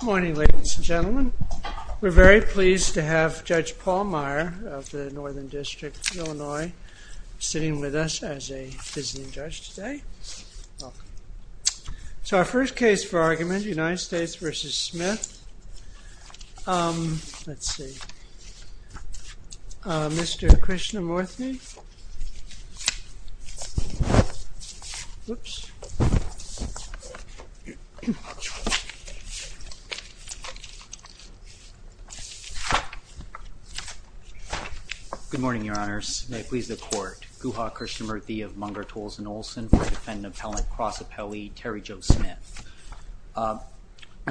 Good morning ladies and gentlemen. We're very pleased to have Judge Paul Meyer of the Northern District of Illinois sitting with us as a visiting judge today. So our first case for argument, United States v. Smith. Let's see, Mr. Krishnamoorthi. Good morning, your honors. May it please the court. Guha Krishnamoorthi of Munger Tolles and Olson for defendant appellant cross appellee Terry Joe Smith. I'd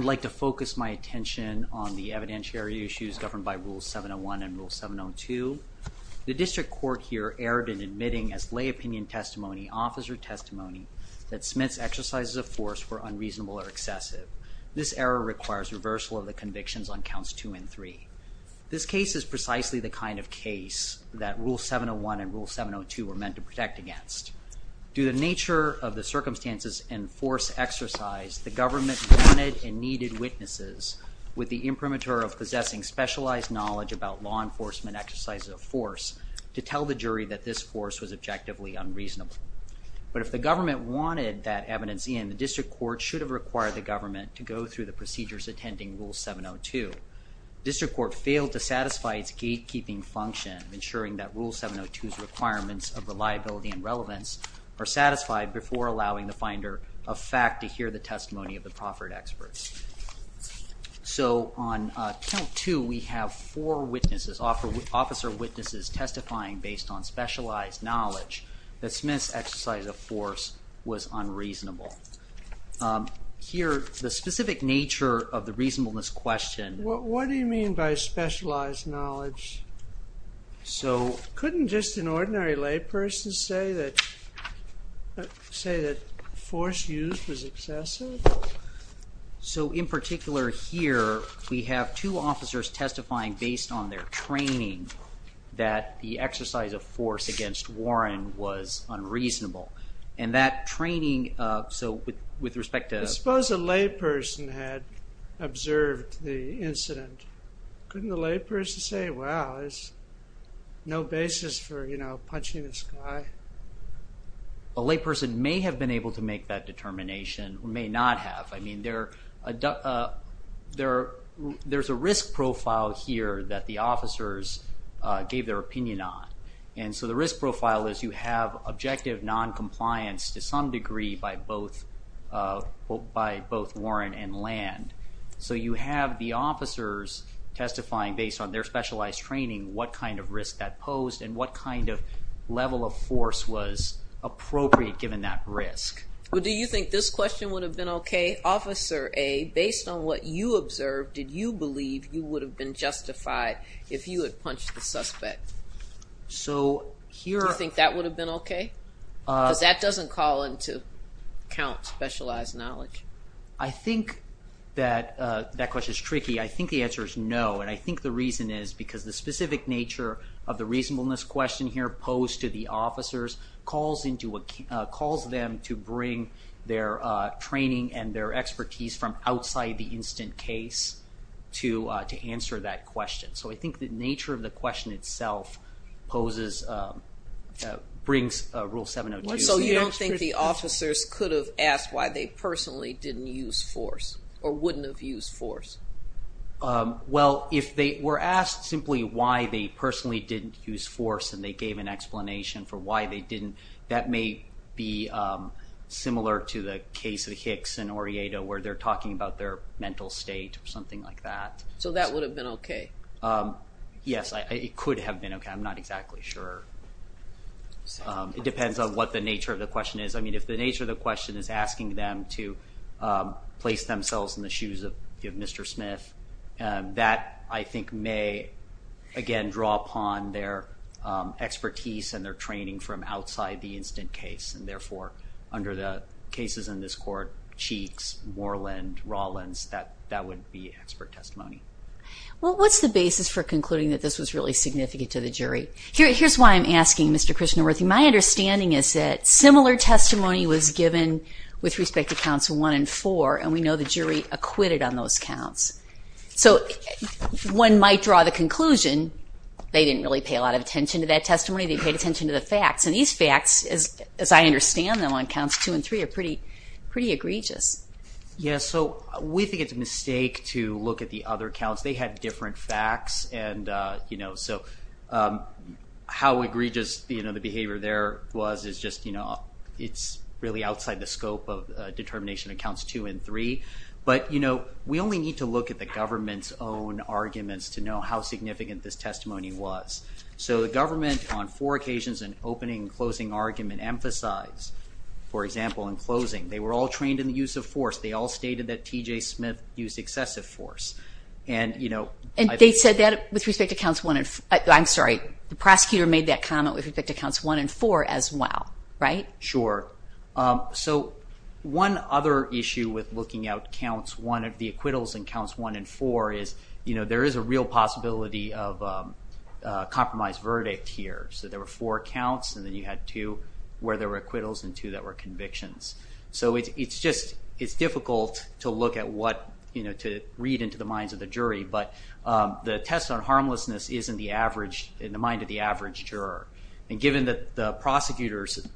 like to focus my attention on the evidentiary issues governed by Rule 701 and Rule 702. The district court here erred in admitting as lay opinion testimony, officer testimony, that Smith's exercises of force were unreasonable or excessive. This error requires reversal of the convictions on counts two and three. This case is precisely the kind of case that Rule 701 and Rule 702 were meant to protect against. Due to the nature of the circumstances and force exercised, the government wanted and needed witnesses with the imprimatur of possessing specialized knowledge about law enforcement exercises of force to tell the jury that this force was objectively unreasonable. But if the government wanted that evidence in, the district court should have required the government to go through the procedures attending Rule 702. The district court failed to satisfy its gatekeeping function of ensuring that Rule 702's requirements of reliability and relevance are satisfied before allowing the finder of fact to hear the testimony of the proffered experts. So on count two, we have four officer witnesses testifying based on specialized knowledge that Smith's exercise of force was unreasonable. Here, the specific nature of the reasonableness question... What do you mean by specialized knowledge? Couldn't just an ordinary lay person say that force used was excessive? So in particular here, we have two officers testifying based on their training that the exercise of force against Warren was unreasonable. And that training, so with respect to... Suppose a lay person had observed the incident. Couldn't the lay person say, wow, there's no basis for, you know, punching this guy? A lay person may have been able to make that determination or may not have. I mean, there's a risk profile here that the officers gave their opinion on. And so the risk profile is you have objective noncompliance to some degree by both Warren and Land. So you have the officers testifying based on their specialized training what kind of risk that posed and what kind of level of force was appropriate given that risk. But do you think this question would have been okay? Officer A, based on what you observed, did you believe you would have been justified if you had punched the suspect? So here... Do you think that would have been okay? Because that doesn't call into account specialized knowledge. I think that that question is tricky. I think the answer is no. And I think the reason is because the specific nature of the reasonableness question here posed to the officers calls them to bring their training and their expertise from outside the instant case to answer that question. So I think the nature of the question itself brings Rule 702. So you don't think the officers could have asked why they personally didn't use force or wouldn't have used force? Well, if they were asked simply why they personally didn't use force and they gave an explanation for why they didn't, that may be similar to the case of Hicks and Orieta where they're talking about their mental state or something like that. So that would have been okay? Yes, it could have been okay. I'm not exactly sure. It depends on what the nature of the question is. I mean, if the nature of the question is asking them to place themselves in the shoes of Mr. Smith, that I think may, again, draw upon their expertise and their training from outside the instant case. And therefore, under the cases in this court, Cheeks, Moorland, Rawlins, that would be expert testimony. Well, what's the basis for concluding that this was really significant to the jury? Here's why I'm asking, Mr. Krishnamoorthy. My understanding is that similar testimony was given with respect to counts one and four, and we know the jury acquitted on those counts. So one might draw the conclusion they didn't really pay a lot of attention to that testimony, they paid attention to the facts. And these facts, as I understand them on counts two and three, are pretty egregious. Yes, so we think it's a mistake to look at the other counts. They had different facts. And so how egregious the behavior there was is just, it's really outside the scope of determination of counts two and three. But we only need to look at the government's own arguments to know how significant this testimony was. So the government on four occasions in opening and closing argument emphasized, for example, in closing, they were all trained in the use of force. They all stated that T.J. Smith used excessive force. And they said that with respect to counts one and four. I'm sorry, the prosecutor made that comment with respect to counts one and four as well, right? Sure. So one other issue with looking at the acquittals in counts one and four is there is a real possibility of a compromised verdict here. So there were four counts, and then you had two where there were acquittals and two that were convictions. So it's difficult to look at what, you know, to read into the minds of the jury. But the test on harmlessness is in the mind of the average juror. And given the prosecutor's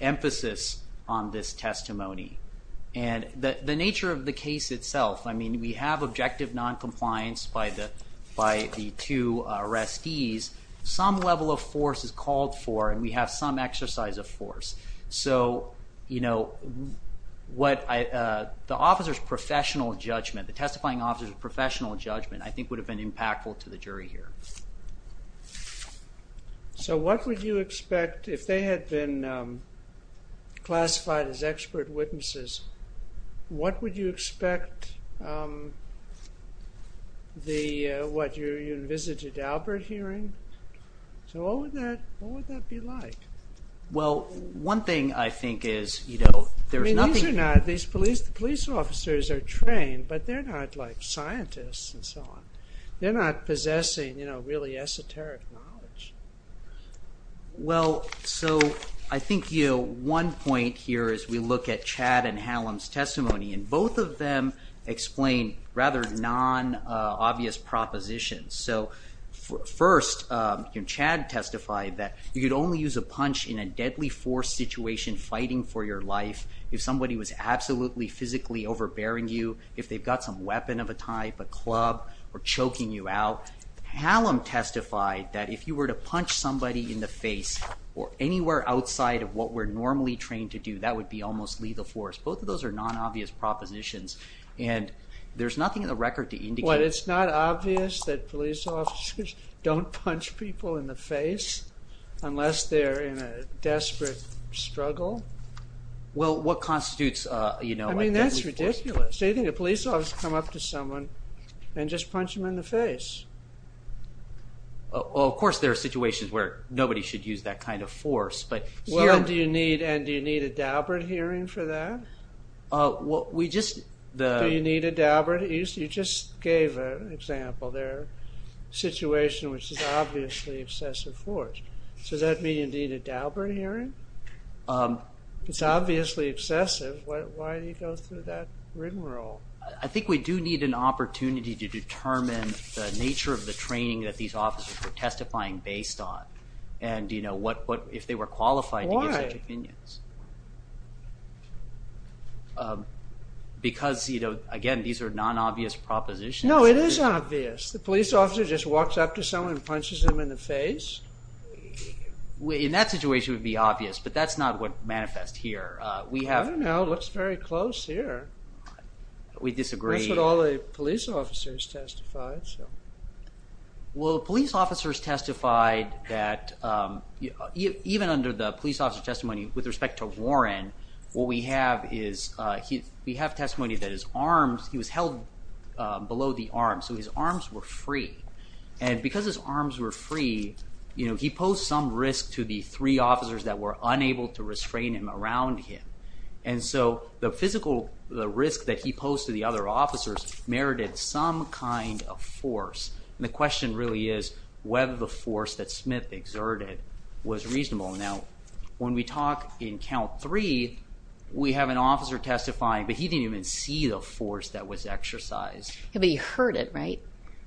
emphasis on this testimony, and the nature of the case itself, I mean, we have objective noncompliance by the two arrestees. Some level of force is called for, and we have some exercise of force. So, you know, the officer's professional judgment, the testifying officer's professional judgment I think would have been impactful to the jury here. So what would you expect, if they had been classified as expert witnesses, what would you expect the, what, you envisage a Daubert hearing? So what would that be like? Well, one thing I think is, you know, there's nothing... I mean, these are not, these police officers are trained, but they're not like scientists and so on. They're not possessing, you know, really esoteric knowledge. Well, so I think, you know, one point here is we look at Chad and Hallam's testimony, and both of them explain rather non-obvious propositions. So first, you know, Chad testified that you could only use a punch in a deadly force situation, fighting for your life, if somebody was absolutely physically overbearing you, if they've got some weapon of a type, a club, or choking you out. Hallam testified that if you were to punch somebody in the face or anywhere outside of what we're normally trained to do, that would be almost lethal force. Both of those are non-obvious propositions, and there's nothing in the record to indicate... unless they're in a desperate struggle. Well, what constitutes, you know, a deadly force? I mean, that's ridiculous. Do you think a police officer would come up to someone and just punch them in the face? Well, of course, there are situations where nobody should use that kind of force, but... Well, and do you need a Daubert hearing for that? Well, we just... Do you need a Daubert? You just gave an example there, a situation which is obviously obsessive force. So does that mean you need a Daubert hearing? It's obviously obsessive. Why do you go through that rigmarole? I think we do need an opportunity to determine the nature of the training that these officers were testifying based on, and, you know, what... if they were qualified to give such opinions. Because, you know, again, these are non-obvious propositions. No, it is obvious. The police officer just walks up to someone and punches them in the face. In that situation, it would be obvious, but that's not what manifests here. We have... I don't know. It looks very close here. We disagree. That's what all the police officers testified, so... Well, police officers testified that, even under the police officer's testimony with respect to Warren, what we have is we have testimony that his arms... below the arms, so his arms were free. And because his arms were free, you know, he posed some risk to the three officers that were unable to restrain him around him. And so the physical... the risk that he posed to the other officers merited some kind of force. And the question really is whether the force that Smith exerted was reasonable. Now, when we talk in count three, we have an officer testifying, but he didn't even see the force exercised. But he heard it, right?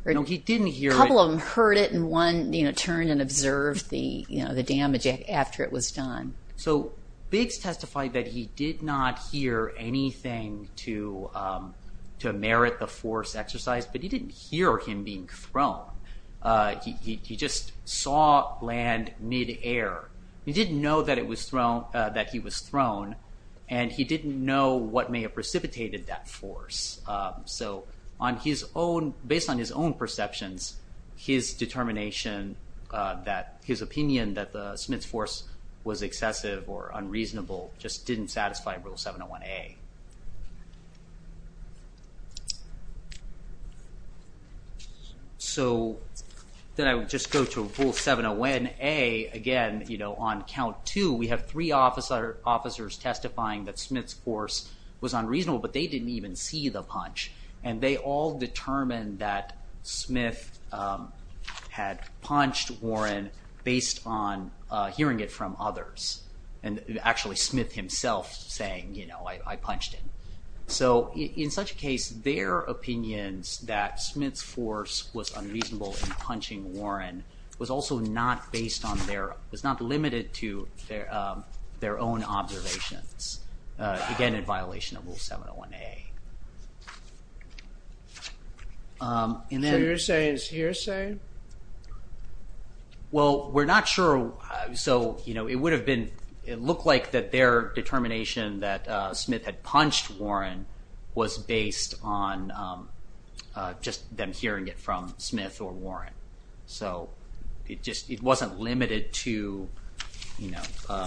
No, he didn't hear it. A couple of them heard it, and one turned and observed the damage after it was done. So Biggs testified that he did not hear anything to merit the force exercise, but he didn't hear him being thrown. He just saw land midair. He didn't know that he was thrown, and he didn't know what may have precipitated that force. So on his own, based on his own perceptions, his determination that his opinion that the Smith's force was excessive or unreasonable just didn't satisfy Rule 701A. So then I would just go to Rule 701A again, you know, on count two, we have three officers testifying that Smith's force was unreasonable, but they didn't even see the punch. And they all determined that Smith had punched Warren based on hearing it from others. And actually Smith himself saying, you know, I punched him. So in such a case, their opinions that Smith's force was unreasonable in punching Warren was also not based on their, was not limited to their own observations, again, in violation of Rule 701A. So you're saying it's hearsay? Well, we're not sure. So, you know, it would have been, it looked like that their determination that Smith had punched Warren was based on just them hearing it from Smith or Warren. So it just, it wasn't limited to, you know,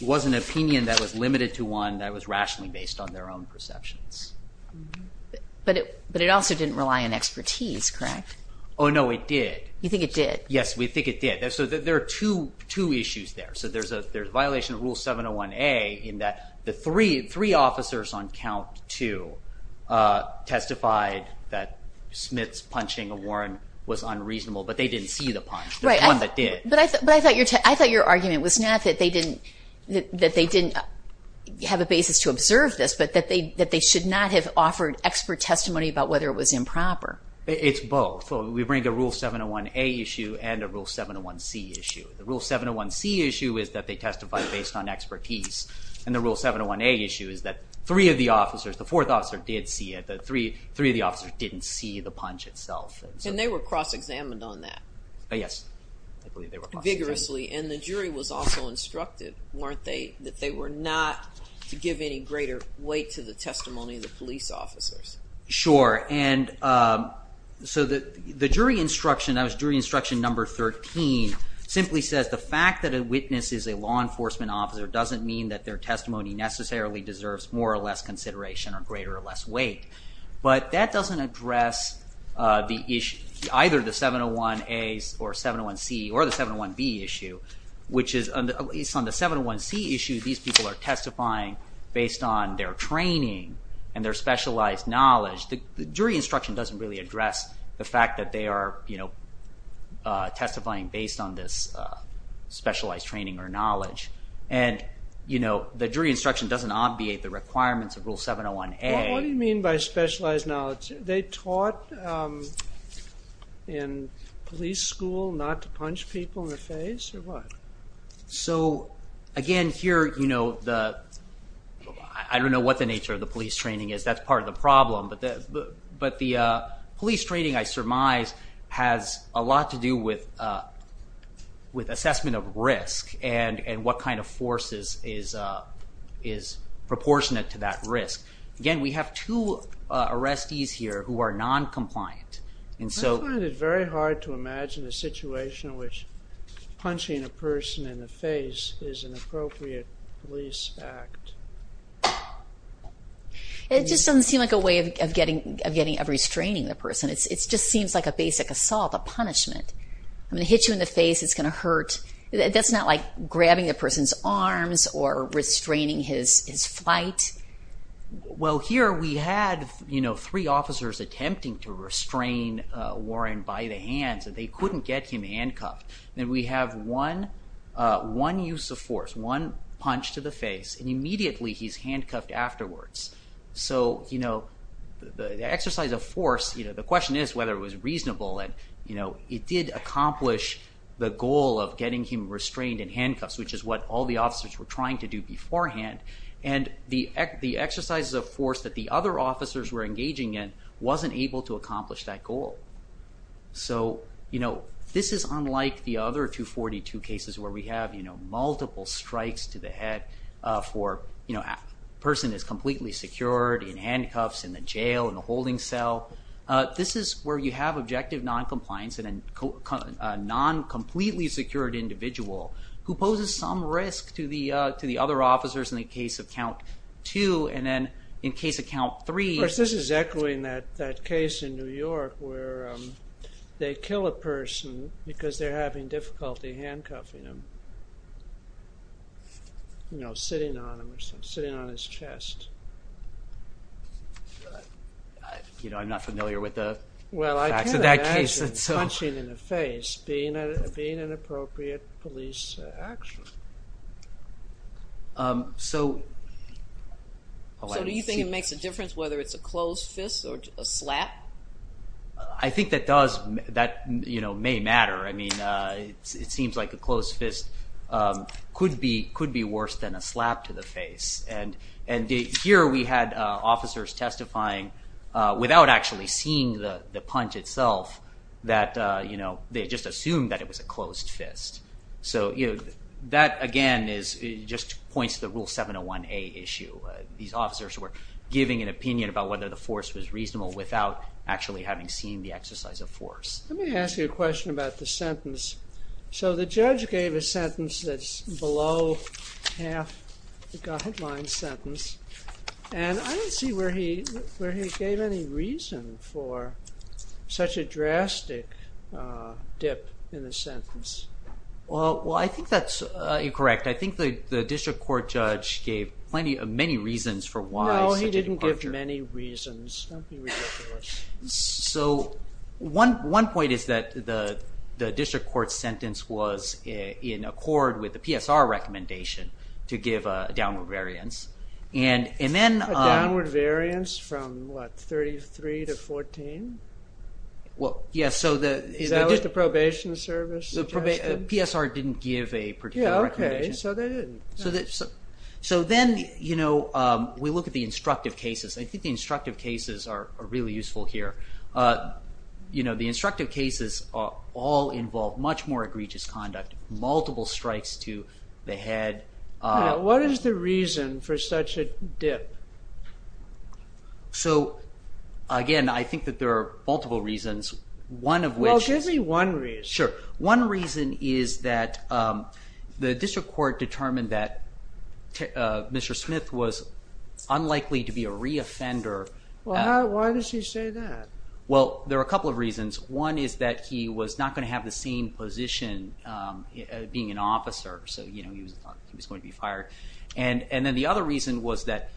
it wasn't an opinion that was limited to one that was rationally based on their own perceptions. But it also didn't rely on expertise, correct? Oh, no, it did. You think it did? Yes, we think it did. So there are two issues there. So there's a violation of Rule 701A in that the three officers on count two testified that Smith's and Warren was unreasonable, but they didn't see the punch, the one that did. But I thought your, I thought your argument was not that they didn't, that they didn't have a basis to observe this, but that they, that they should not have offered expert testimony about whether it was improper. It's both. So we bring a Rule 701A issue and a Rule 701C issue. The Rule 701C issue is that they testified based on expertise. And the Rule 701A issue is that three of the officers, the fourth officer did see it, but the three of the officers didn't see the punch itself. And they were cross-examined on that. Yes, I believe they were cross-examined. Vigorously. And the jury was also instructed, weren't they, that they were not to give any greater weight to the testimony of the police officers. Sure. And so the jury instruction, that was jury instruction number 13, simply says the fact that a witness is a law enforcement officer doesn't mean that their testimony necessarily deserves more or less consideration or greater or less weight. But that doesn't address the issue, either the 701A or 701C or the 701B issue, which is, at least on the 701C issue, these people are testifying based on their training and their specialized knowledge. The jury instruction doesn't really address the fact that they are, you know, testifying based on this specialized training or knowledge. And, you know, the jury instruction doesn't obviate the requirements of Rule 701A. What do you mean by specialized knowledge? They taught in police school not to punch people in the face or what? So, again, here, you know, I don't know what the nature of the police training is. That's part of the problem. But the police training, I surmise, has a lot to do with assessment of risk and what kind of force is proportionate to that risk. Again, we have two arrestees here who are noncompliant. And so I find it very hard to imagine a situation in which punching a person in the face is an appropriate police act. It just doesn't seem like a way of getting, of restraining the person. It just seems like a basic assault, a punishment. I'm going to hit you in the face. It's going to hurt. That's not like grabbing the person's arms or restraining his flight. Well, here we had, you know, three officers attempting to restrain Warren by the hands and they couldn't get him handcuffed. Then we have one use of force, one punch to the face, and immediately he's handcuffed afterwards. So, you know, the exercise of force, you know, the question is whether it was reasonable. And, you know, it did accomplish the goal of getting him restrained in handcuffs, which is what all the officers were trying to do beforehand. And the exercises of force that the other officers were engaging in wasn't able to accomplish that goal. So, you know, this is unlike the other 242 cases where we have, you know, multiple strikes to the head for, you know, a person is completely secured in handcuffs, in the jail, in the holding cell. This is where you have objective noncompliance and a non-completely secured individual who poses some risk to the other officers in the case of count two. And then in case of count three. Of course, this is echoing that case in New York where they kill a person because they're having difficulty handcuffing him. You know, sitting on him or something, sitting on his chest. You know, I'm not familiar with the facts of that case. Well, I can imagine punching in the face being an appropriate police action. So. So do you think it makes a difference whether it's a closed fist or a slap? I think that does, that, you know, may matter. I mean, it seems like a closed fist could be worse than a slap to the face. And here we had officers testifying without actually seeing the punch itself that, you know, they just assumed that it was a closed fist. So, you know, that again is, just points to the Rule 701A issue. These officers were giving an opinion about whether the force was reasonable without actually having seen the exercise of force. Let me ask you a question about the sentence. So the judge gave a sentence that's below half the guideline sentence. And I don't see where he gave any reason for such a drastic dip in the sentence. Well, I think that's incorrect. I think the district court judge gave plenty, many reasons for why such a departure. No, he didn't give many reasons. Don't be ridiculous. So one point is that the district court sentence was in accord with the PSR recommendation to give a downward variance. A downward variance from, what, 33 to 14? Well, yeah, so the... Is that what the probation service suggested? PSR didn't give a particular recommendation. Yeah, okay, so they didn't. So then, you know, we look at the instructive cases. I think the instructive cases are really useful here. You know, the instructive cases all involve much more egregious conduct, multiple strikes to the head. What is the reason for such a dip? So, again, I think that there are multiple reasons, one of which... Well, give me one reason. Sure, one reason is that the district court determined that Mr. Smith was unlikely to be a re-offender. Well, why does he say that? Well, there are a couple of reasons. One is that he was not going to have the same position being an officer, so, you know, he was going to be fired. And then the other reason was that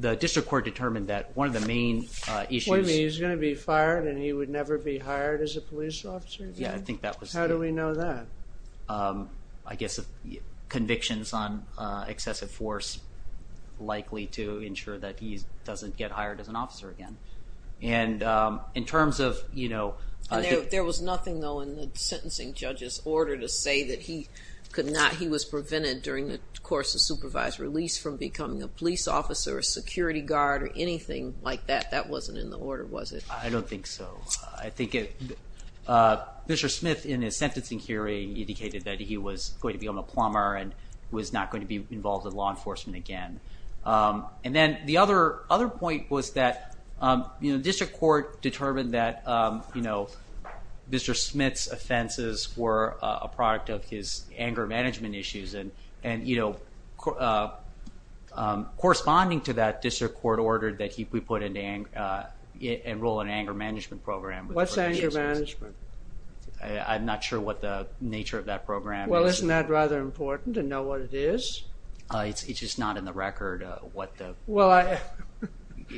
the district court determined that one of the main issues... Wait a minute, he was going to be fired and he would never be hired as a police officer? Yeah, I think that was... How do we know that? I guess convictions on excessive force, likely to ensure that he doesn't get hired as an officer again. And in terms of, you know... There was nothing, though, in the sentencing judge's order to say that he could not, he was prevented during the course of supervised release from becoming a police officer or security guard or anything like that, that wasn't in the order, was it? I don't think so. I think Mr. Smith, in his sentencing hearing, indicated that he was going to become a plumber and was not going to be involved in law enforcement again. And then the other point was that, you know, the district court determined that, you know, Mr. Smith's offenses were a product of his anger management issues. And, you know, corresponding to that, district court ordered that he be put into anger, enroll in anger management program. What's anger management? I'm not sure what the nature of that program is. Well, isn't that rather important to know what it is? It's just not in the record what the... Well, I...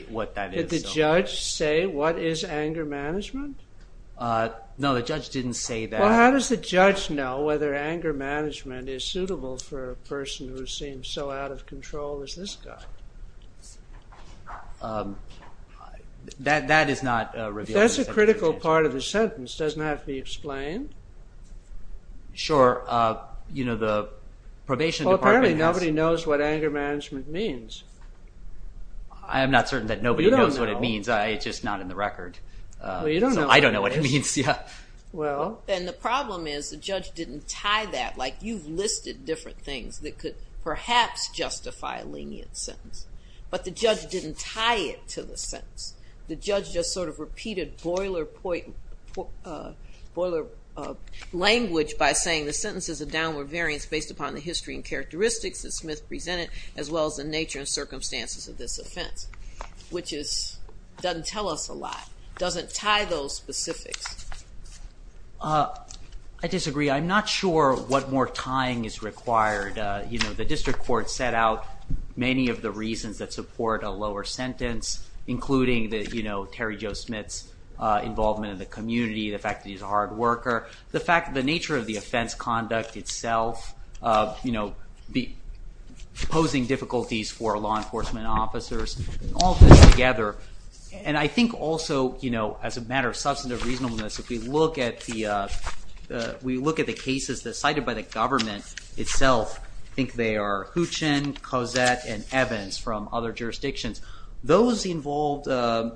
What that is. Did the judge say what is anger management? No, the judge didn't say that. Well, how does the judge know whether anger management is suitable for a person who seems so out of control as this guy? That is not revealed. That's a critical part of the sentence. It doesn't have to be explained. Sure. You know, the probation department has... Well, apparently nobody knows what anger management means. I am not certain that nobody knows what it means. You don't know. It's just not in the record. Well, you don't know. I don't know what it means. Yeah. Well... And the problem is the judge didn't tie that. Like, you've listed different things that could perhaps justify a lenient sentence. But the judge didn't tie it to the sentence. The judge just sort of repeated boiler point... boiler language by saying the sentence is a downward variance based upon the history and characteristics that Smith presented, as well as the nature and circumstances of this offense, which is... doesn't tell us a lot. Doesn't tie those specifics. I disagree. I'm not sure what more tying is required. You know, the district court set out many of the reasons that support a lower sentence, including, you know, Terry Joe Smith's involvement in the community, the fact that he's a hard worker, the nature of the offense conduct itself, you know, posing difficulties for law enforcement officers, all this together. And I think also, you know, as a matter of substantive reasonableness, if we look at the cases cited by the government itself, I think they are Hootchin, Cosette, and Evans from other jurisdictions. Those involved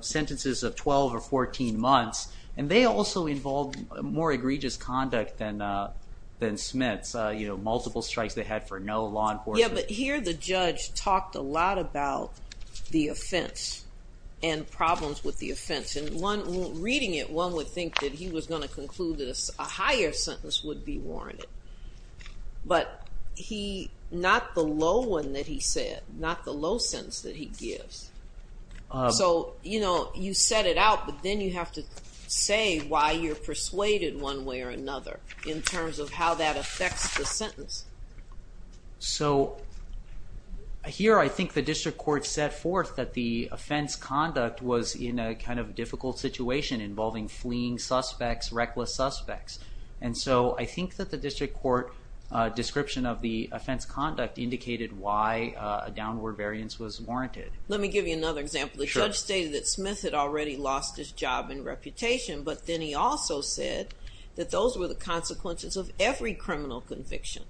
sentences of 12 or 14 months. And they also involved more egregious conduct than Smith's, you know, multiple strikes they had for no law enforcement. Yeah, but here the judge talked a lot about the offense and problems with the offense. And one, reading it, one would think that he was going to conclude that a higher sentence would be warranted. But he, not the low one that he said, not the low sentence that he gives. So, you know, you set it out, but then you have to say why you're persuaded one way or another, in terms of how that affects the sentence. So, here I think the district court set forth that the offense conduct was in a kind of difficult situation, involving fleeing suspects, reckless suspects. And so I think that the district court description of the offense conduct indicated why a downward variance was warranted. Let me give you another example. The judge stated that Smith had already lost his job and reputation, but then he also said that those were the consequences of every criminal conviction.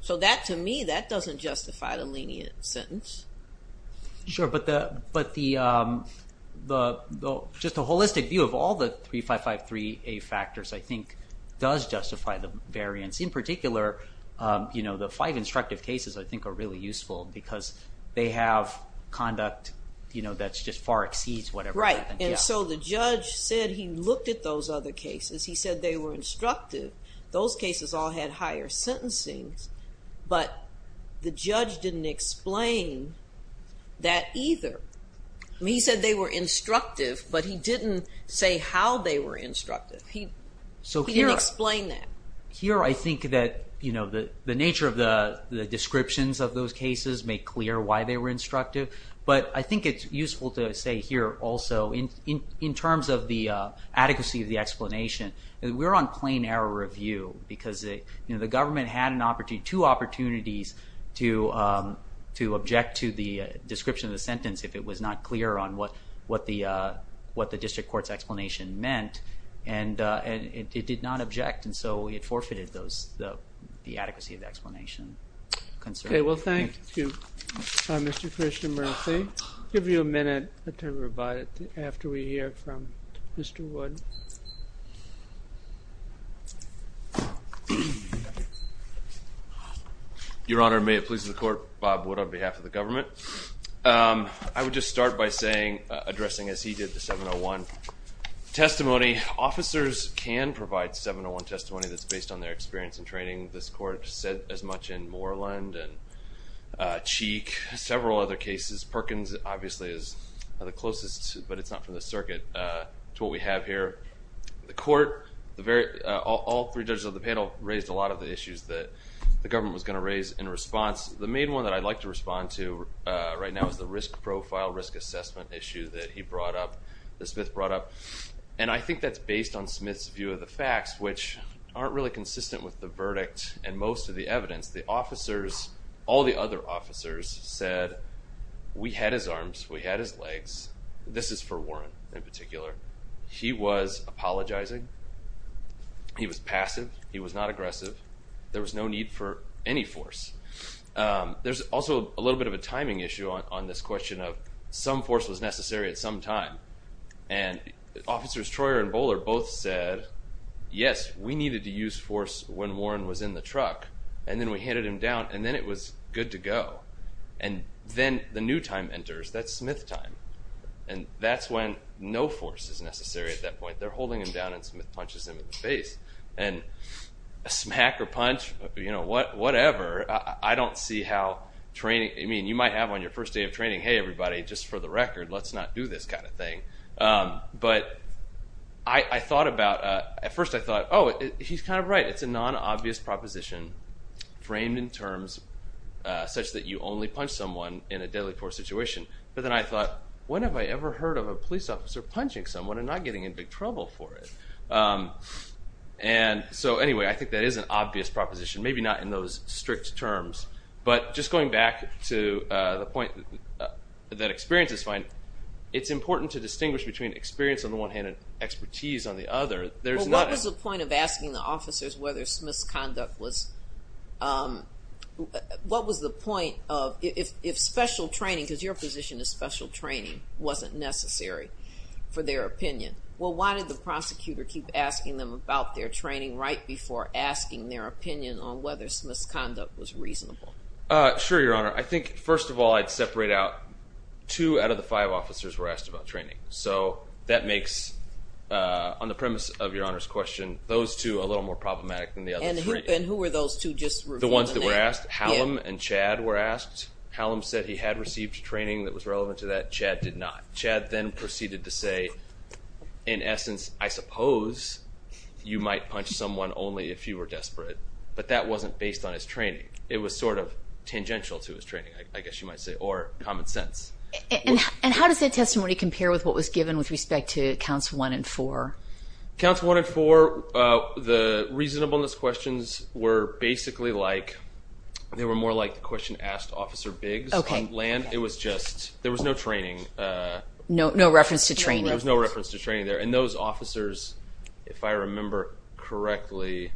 So that, to me, that doesn't justify the lenient sentence. Sure, but the, just the holistic view of all the 3553A factors, I think, does justify the variance. In particular, you know, the five instructive cases, I think, are really useful, because they have conduct, you know, that's just far exceeds whatever happened. And so the judge said he looked at those other cases. He said they were instructive. Those cases all had higher sentencing, but the judge didn't explain that either. I mean, he said they were instructive, but he didn't say how they were instructive. He didn't explain that. Here I think that, you know, the nature of the descriptions of those cases make clear why they were instructive. But I think it's useful to say here also, in terms of the adequacy of the explanation, we're on plain error review, because, you know, the government had two opportunities to object to the description of the sentence if it was not clear on what the district court's explanation meant, and it did not object, and so it forfeited the adequacy of the explanation. Okay, well, thank you, Mr. Christian-Murthy. I'll give you a minute to rebut it after we hear from Mr. Wood. Your Honor, may it please the Court, Bob Wood on behalf of the government. I would just start by saying, addressing as he did the 701 testimony, officers can provide 701 testimony that's based on their experience and training. This Court said as much in Moreland and Cheek, several other cases. Perkins, obviously, is the closest, but it's not from the circuit, to what we have here. The Court, all three judges of the panel raised a lot of the issues that the government was going to raise in response. The main one that I'd like to respond to right now is the risk profile, risk assessment issue that he brought up, that Smith brought up, and I think that's based on Smith's view of the facts, which aren't really consistent with the verdict and most of the evidence. The officers, all the other officers said, we had his arms, we had his legs. This is for Warren, in particular. He was apologizing. He was passive. He was not aggressive. There was no need for any force. There's also a little bit of a timing issue on this question of some force was necessary at some time, and officers Troyer and Bowler both said, yes, we needed to use force when Warren was in the truck, and then we handed him down, and then it was good to go. And then the new time enters. That's Smith time, and that's when no force is necessary at that point. They're holding him down, and Smith punches him in the face, and smack or punch, you know, whatever. I don't see how training, I mean, you might have on your first day of training, hey, everybody, just for the record, let's not do this kind of thing. But I thought about, at first I thought, oh, he's kind of right. It's a non-obvious proposition framed in terms such that you only punch someone in a deadly force situation. But then I thought, when have I ever heard of a police officer punching someone and not getting in big trouble for it? And so anyway, I think that is an obvious proposition, maybe not in those strict terms. But just going back to the point that experience is fine, it's important to distinguish between experience on the one hand and expertise on the other. Well, what was the point of asking the officers whether Smith's conduct was, what was the point of, if special training, because your position is special training, wasn't necessary for their opinion, well, why did the prosecutor keep asking them about their training right before asking their opinion on whether Smith's conduct was reasonable? Sure, Your Honor. I think, first of all, I'd separate out two out of the five officers were asked about training. So that makes, on the premise of Your Honor's question, those two a little more problematic than the other three. And who were those two just revealed? The ones that were asked? Hallam and Chad were asked. Hallam said he had received training that was relevant to that. Chad did not. Chad then proceeded to say, in essence, I suppose you might punch someone only if you were desperate. But that wasn't based on his training. It was sort of tangential to his training, I guess you might say, or common sense. And how does that testimony compare with what was given with respect to counts one and four? Counts one and four, the reasonableness questions were basically like, they were more like the question asked Officer Biggs on land. It was just, there was no training. No reference to training. There was no reference to training there. And those officers, if I remember correctly,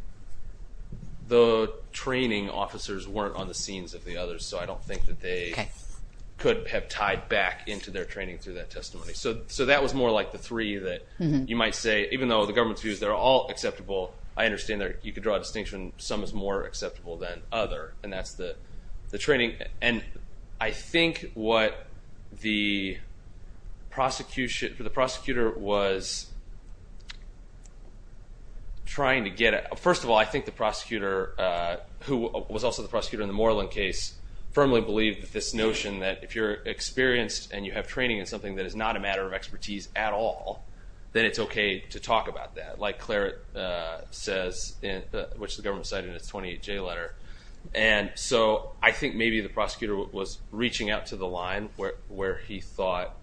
the training officers weren't on the scenes of the others. So I don't think that they could have tied back into their training through that testimony. So that was more like the three that you might say, even though the government's views, they're all acceptable. I understand you could draw a distinction. Some is more acceptable than other. And that's the training. And I think what the prosecutor was trying to get at, first of all, I think the prosecutor, who was also the prosecutor in the Moreland case, firmly believed this notion that if you're experienced and you have training in something that is not a matter of expertise at all, then it's okay to talk about that, like Claret says, which the government cited in its 28J letter. And so I think maybe the prosecutor was reaching out to the line where he thought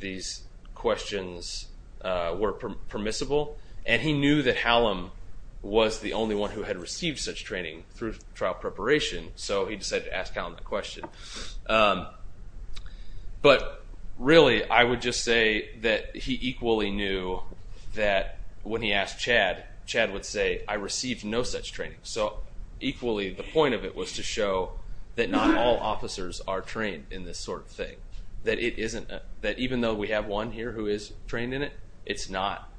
these questions were permissible. And he knew that Hallam was the only one who had received such training through trial preparation. So he decided to ask Hallam that question. But really, I would just say that he equally knew that when he asked Chad, Chad would say, I received no such training. So equally, the point of it was to show that not all officers are trained in this sort of thing, that it isn't, that even though we have one here who is trained in it, it's not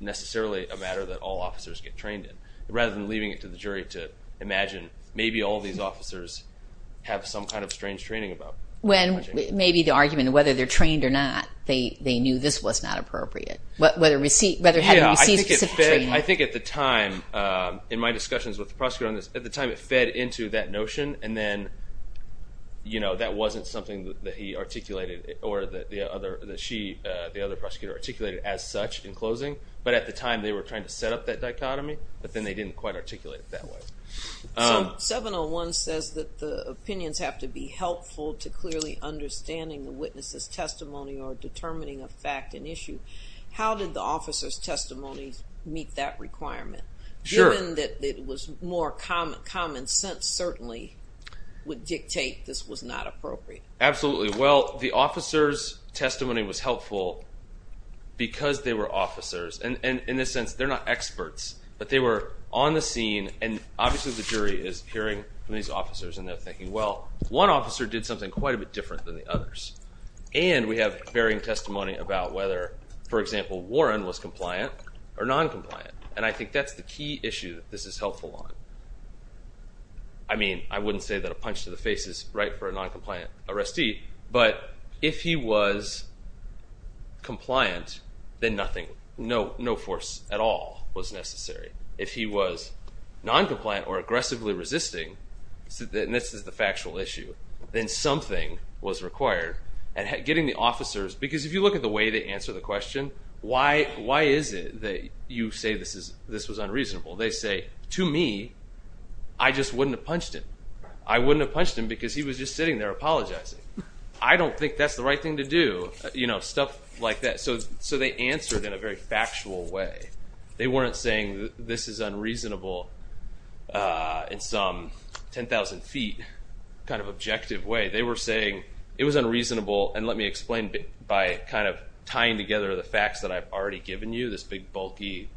necessarily a matter that all officers get trained in, rather than leaving it to the jury to imagine maybe all these officers have some kind of strange training about it. When maybe the argument, whether they're trained or not, they knew this was not appropriate. Whether they had received specific training. I think at the time, in my discussions with the prosecutor on this, at the time it fed into that notion. And then, you know, that wasn't something that he articulated or that she, the other prosecutor, articulated as such in closing. But at the time they were trying to set up that dichotomy. But then they didn't quite articulate it that way. So 701 says that the opinions have to be helpful to clearly understanding the witness's testimony or determining a fact and issue. How did the officer's testimony meet that requirement? Sure. Given that it was more common sense certainly would dictate this was not appropriate. Absolutely. Well, the officer's testimony was helpful because they were officers. And in a sense, they're not experts, but they were on the scene, and obviously the jury is hearing from these officers and they're thinking, well, one officer did something quite a bit different than the others. And we have varying testimony about whether, for example, Warren was compliant or noncompliant. And I think that's the key issue that this is helpful on. I mean, I wouldn't say that a punch to the face is right for a noncompliant arrestee, but if he was compliant, then nothing, no force at all was necessary. If he was noncompliant or aggressively resisting, and this is the factual issue, then something was required. And getting the officers, because if you look at the way they answer the question, why is it that you say this was unreasonable? They say, to me, I just wouldn't have punched him. I wouldn't have punched him because he was just sitting there apologizing. I don't think that's the right thing to do, you know, stuff like that. So they answered in a very factual way. They weren't saying this is unreasonable in some 10,000 feet kind of objective way. They were saying it was unreasonable, and let me explain, by kind of tying together the facts that I've already given you, this big bulky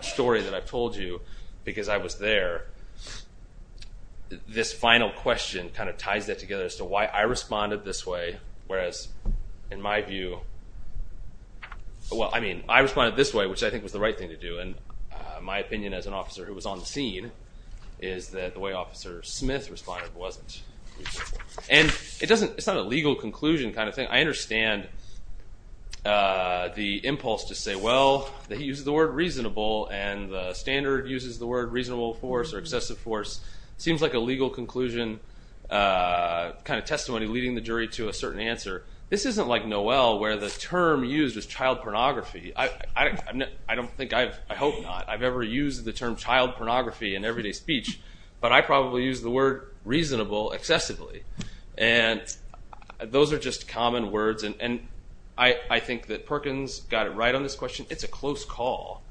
story that I've told you because I was there, this final question kind of ties that together as to why I responded this way, whereas in my view, well, I mean, I responded this way, which I think was the right thing to do, and my opinion as an officer who was on the scene is that the way Officer Smith responded wasn't reasonable. And it's not a legal conclusion kind of thing. I understand the impulse to say, well, that he uses the word reasonable and the standard uses the word reasonable force or excessive force. It seems like a legal conclusion kind of testimony leading the jury to a certain answer. This isn't like Noel where the term used is child pornography. I don't think I've, I hope not, I've ever used the term child pornography in everyday speech, but I probably use the word reasonable excessively. And those are just common words, and I think that Perkins got it right on this question. It's a close call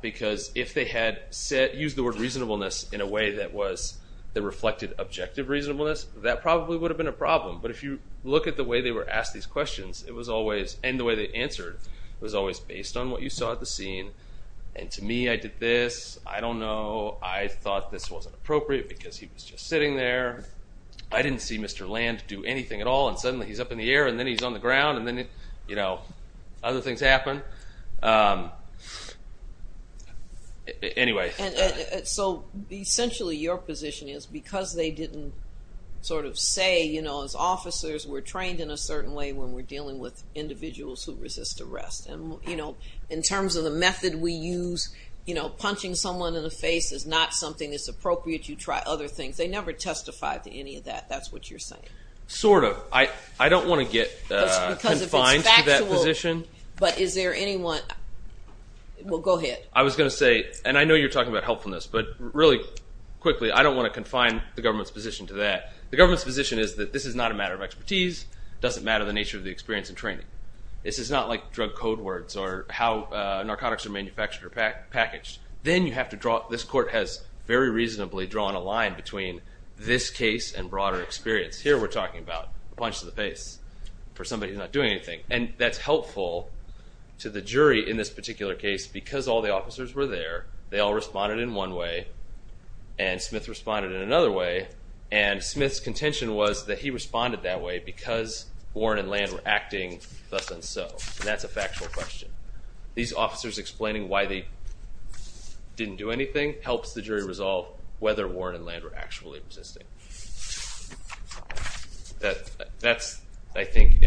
because if they had said, used the word reasonableness in a way that was, that reflected objective reasonableness, that probably would have been a problem. But if you look at the way they were asked these questions, it was always, and the way they answered, it was always based on what you saw at the scene. And to me, I did this, I don't know, I thought this wasn't appropriate because he was just sitting there. I didn't see Mr. Land do anything at all, and suddenly he's up in the air, and then he's on the ground, and then, you know, other things happen. Anyway. So essentially your position is because they didn't sort of say, you know, as officers we're trained in a certain way when we're dealing with individuals who resist arrest. And, you know, in terms of the method we use, you know, punching someone in the face is not something that's appropriate. You try other things. They never testified to any of that. That's what you're saying. Sort of. I don't want to get confined to that position. But is there anyone? Well, go ahead. I was going to say, and I know you're talking about helpfulness, but really quickly I don't want to confine the government's position to that. The government's position is that this is not a matter of expertise. It doesn't matter the nature of the experience and training. This is not like drug code words or how narcotics are manufactured or packaged. Then you have to draw. This court has very reasonably drawn a line between this case and broader experience. Here we're talking about a punch to the face for somebody who's not doing anything. And that's helpful to the jury in this particular case because all the officers were there. They all responded in one way, and Smith responded in another way, and Smith's contention was that he responded that way because Warren and Land were acting thus and so. And that's a factual question. These officers explaining why they didn't do anything helps the jury resolve whether Warren and Land were actually resisting. That's, I think,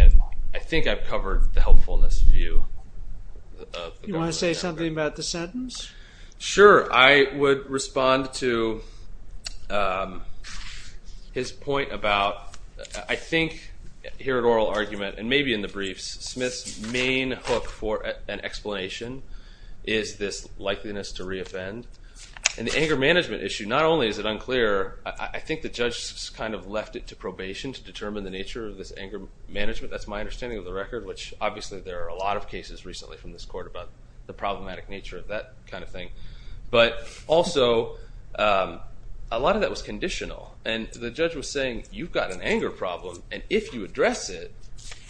I think I've covered the helpfulness view. Do you want to say something about the sentence? Sure. I would respond to his point about, I think, here at oral argument and maybe in the briefs, Smith's main hook for an explanation is this likeliness to reoffend. And the anger management issue, not only is it unclear, I think the judge kind of left it to probation to determine the nature of this anger management. That's my understanding of the record, which obviously there are a lot of cases recently from this court about the problematic nature of that kind of thing. But also, a lot of that was conditional, and the judge was saying, you've got an anger problem, and if you address it,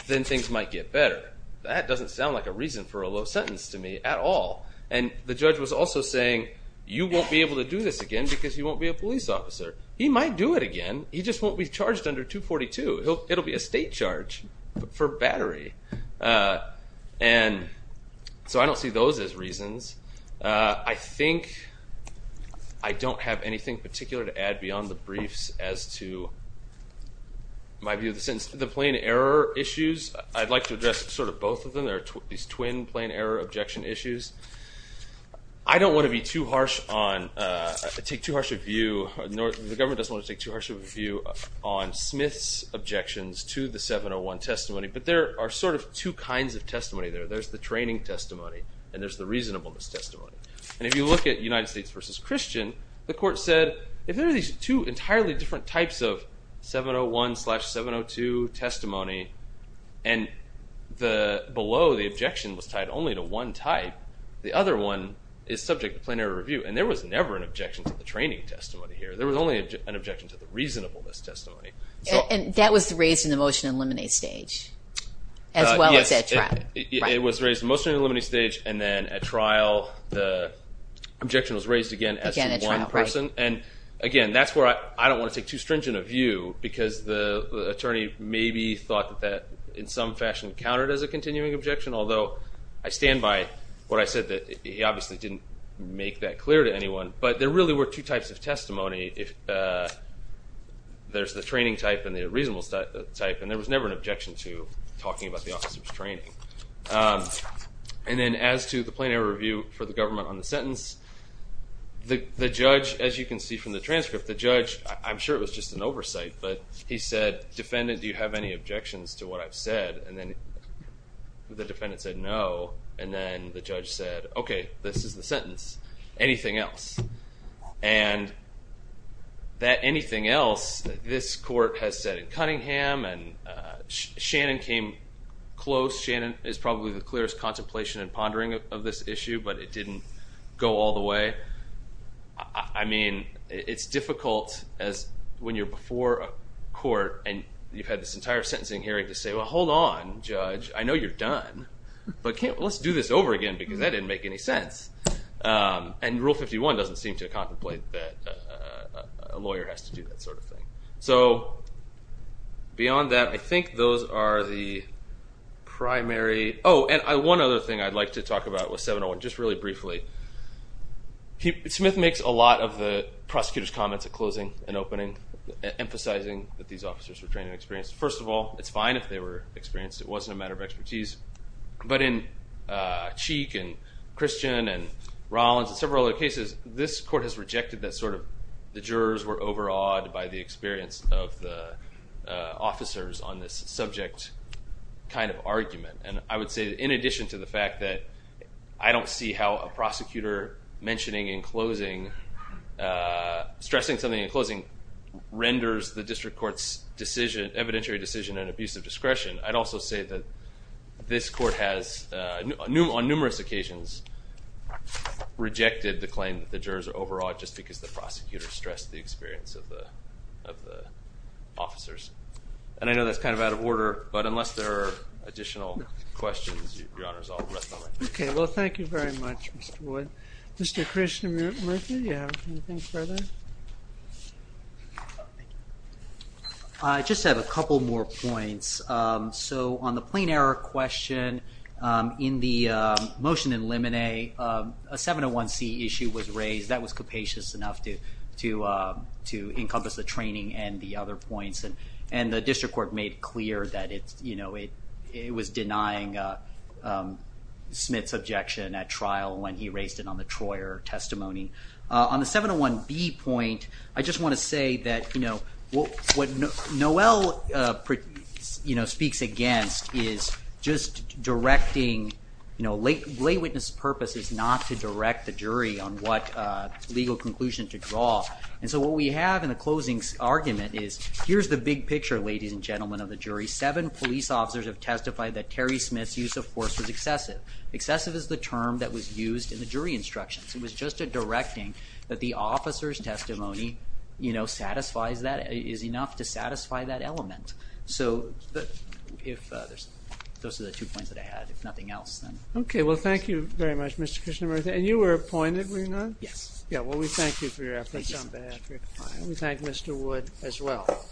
then things might get better. That doesn't sound like a reason for a low sentence to me at all. And the judge was also saying, you won't be able to do this again because you won't be a police officer. He might do it again. He just won't be charged under 242. It'll be a state charge for battery. And so I don't see those as reasons. I think I don't have anything particular to add beyond the briefs as to my view of the sentence. The plain error issues, I'd like to address sort of both of them. There are these twin plain error objection issues. I don't want to be too harsh on, take too harsh a view, the government doesn't want to take too harsh of a view on Smith's objections to the 701 testimony, but there are sort of two kinds of testimony there. There's the training testimony, and there's the reasonableness testimony. And if you look at United States v. Christian, the court said, if there are these two entirely different types of 701-702 testimony, and below the objection was tied only to one type, the other one is subject to plain error review, and there was never an objection to the training testimony here. There was only an objection to the reasonableness testimony. And that was raised in the motion eliminate stage as well as that trial. It was raised in the motion eliminate stage, and then at trial the objection was raised again as to one person. And again, that's where I don't want to take too stringent a view because the attorney maybe thought that that in some fashion countered as a continuing objection, although I stand by what I said that he obviously didn't make that clear to anyone. But there really were two types of testimony. There's the training type and the reasonableness type, and there was never an objection to talking about the officer's training. And then as to the plain error review for the government on the sentence, the judge, as you can see from the transcript, the judge, I'm sure it was just an oversight, but he said, defendant, do you have any objections to what I've said? And then the defendant said no, and then the judge said, okay, this is the sentence. Anything else? And that anything else this court has said in Cunningham and Shannon came close, Shannon is probably the clearest contemplation and pondering of this issue, but it didn't go all the way. I mean, it's difficult as when you're before a court and you've had this entire sentencing hearing to say, well, hold on, judge, I know you're done, but let's do this over again because that didn't make any sense. And Rule 51 doesn't seem to contemplate that a lawyer has to do that sort of thing. So beyond that, I think those are the primary. Oh, and one other thing I'd like to talk about with 701, just really briefly. Smith makes a lot of the prosecutor's comments at closing and opening, emphasizing that these officers were trained and experienced. First of all, it's fine if they were experienced. It wasn't a matter of expertise. But in Cheek and Christian and Rollins and several other cases, this court has rejected that sort of the jurors were overawed by the experience of the officers on this subject kind of argument. And I would say that in addition to the fact that I don't see how a prosecutor mentioning in closing, stressing something in closing, I'd also say that this court has on numerous occasions rejected the claim that the jurors are overawed just because the prosecutor stressed the experience of the officers. And I know that's kind of out of order, but unless there are additional questions, Your Honors, I'll rest on my feet. Okay. Well, thank you very much, Mr. Wood. Mr. Christian Murphy, do you have anything further? I just have a couple more points. So on the plain error question, in the motion in Lemonet, a 701C issue was raised. That was capacious enough to encompass the training and the other points, and the district court made clear that it was denying Smith's objection at trial when he raised it on the Troyer testimony. On the 701B point, I just want to say that what Noel speaks against is just directing lay witness purposes not to direct the jury on what legal conclusion to draw. And so what we have in the closing argument is here's the big picture, ladies and gentlemen, of the jury. Seven police officers have testified that Terry Smith's use of force was excessive. Excessive is the term that was used in the jury instructions. It was just a directing that the officer's testimony, you know, satisfies that, is enough to satisfy that element. So those are the two points that I had. If nothing else, then... Okay. Well, thank you very much, Mr. Christian Murphy. And you were appointed, were you not? Yes. Yeah. Well, we thank you for your efforts on behalf of your client. We thank Mr. Wood as well.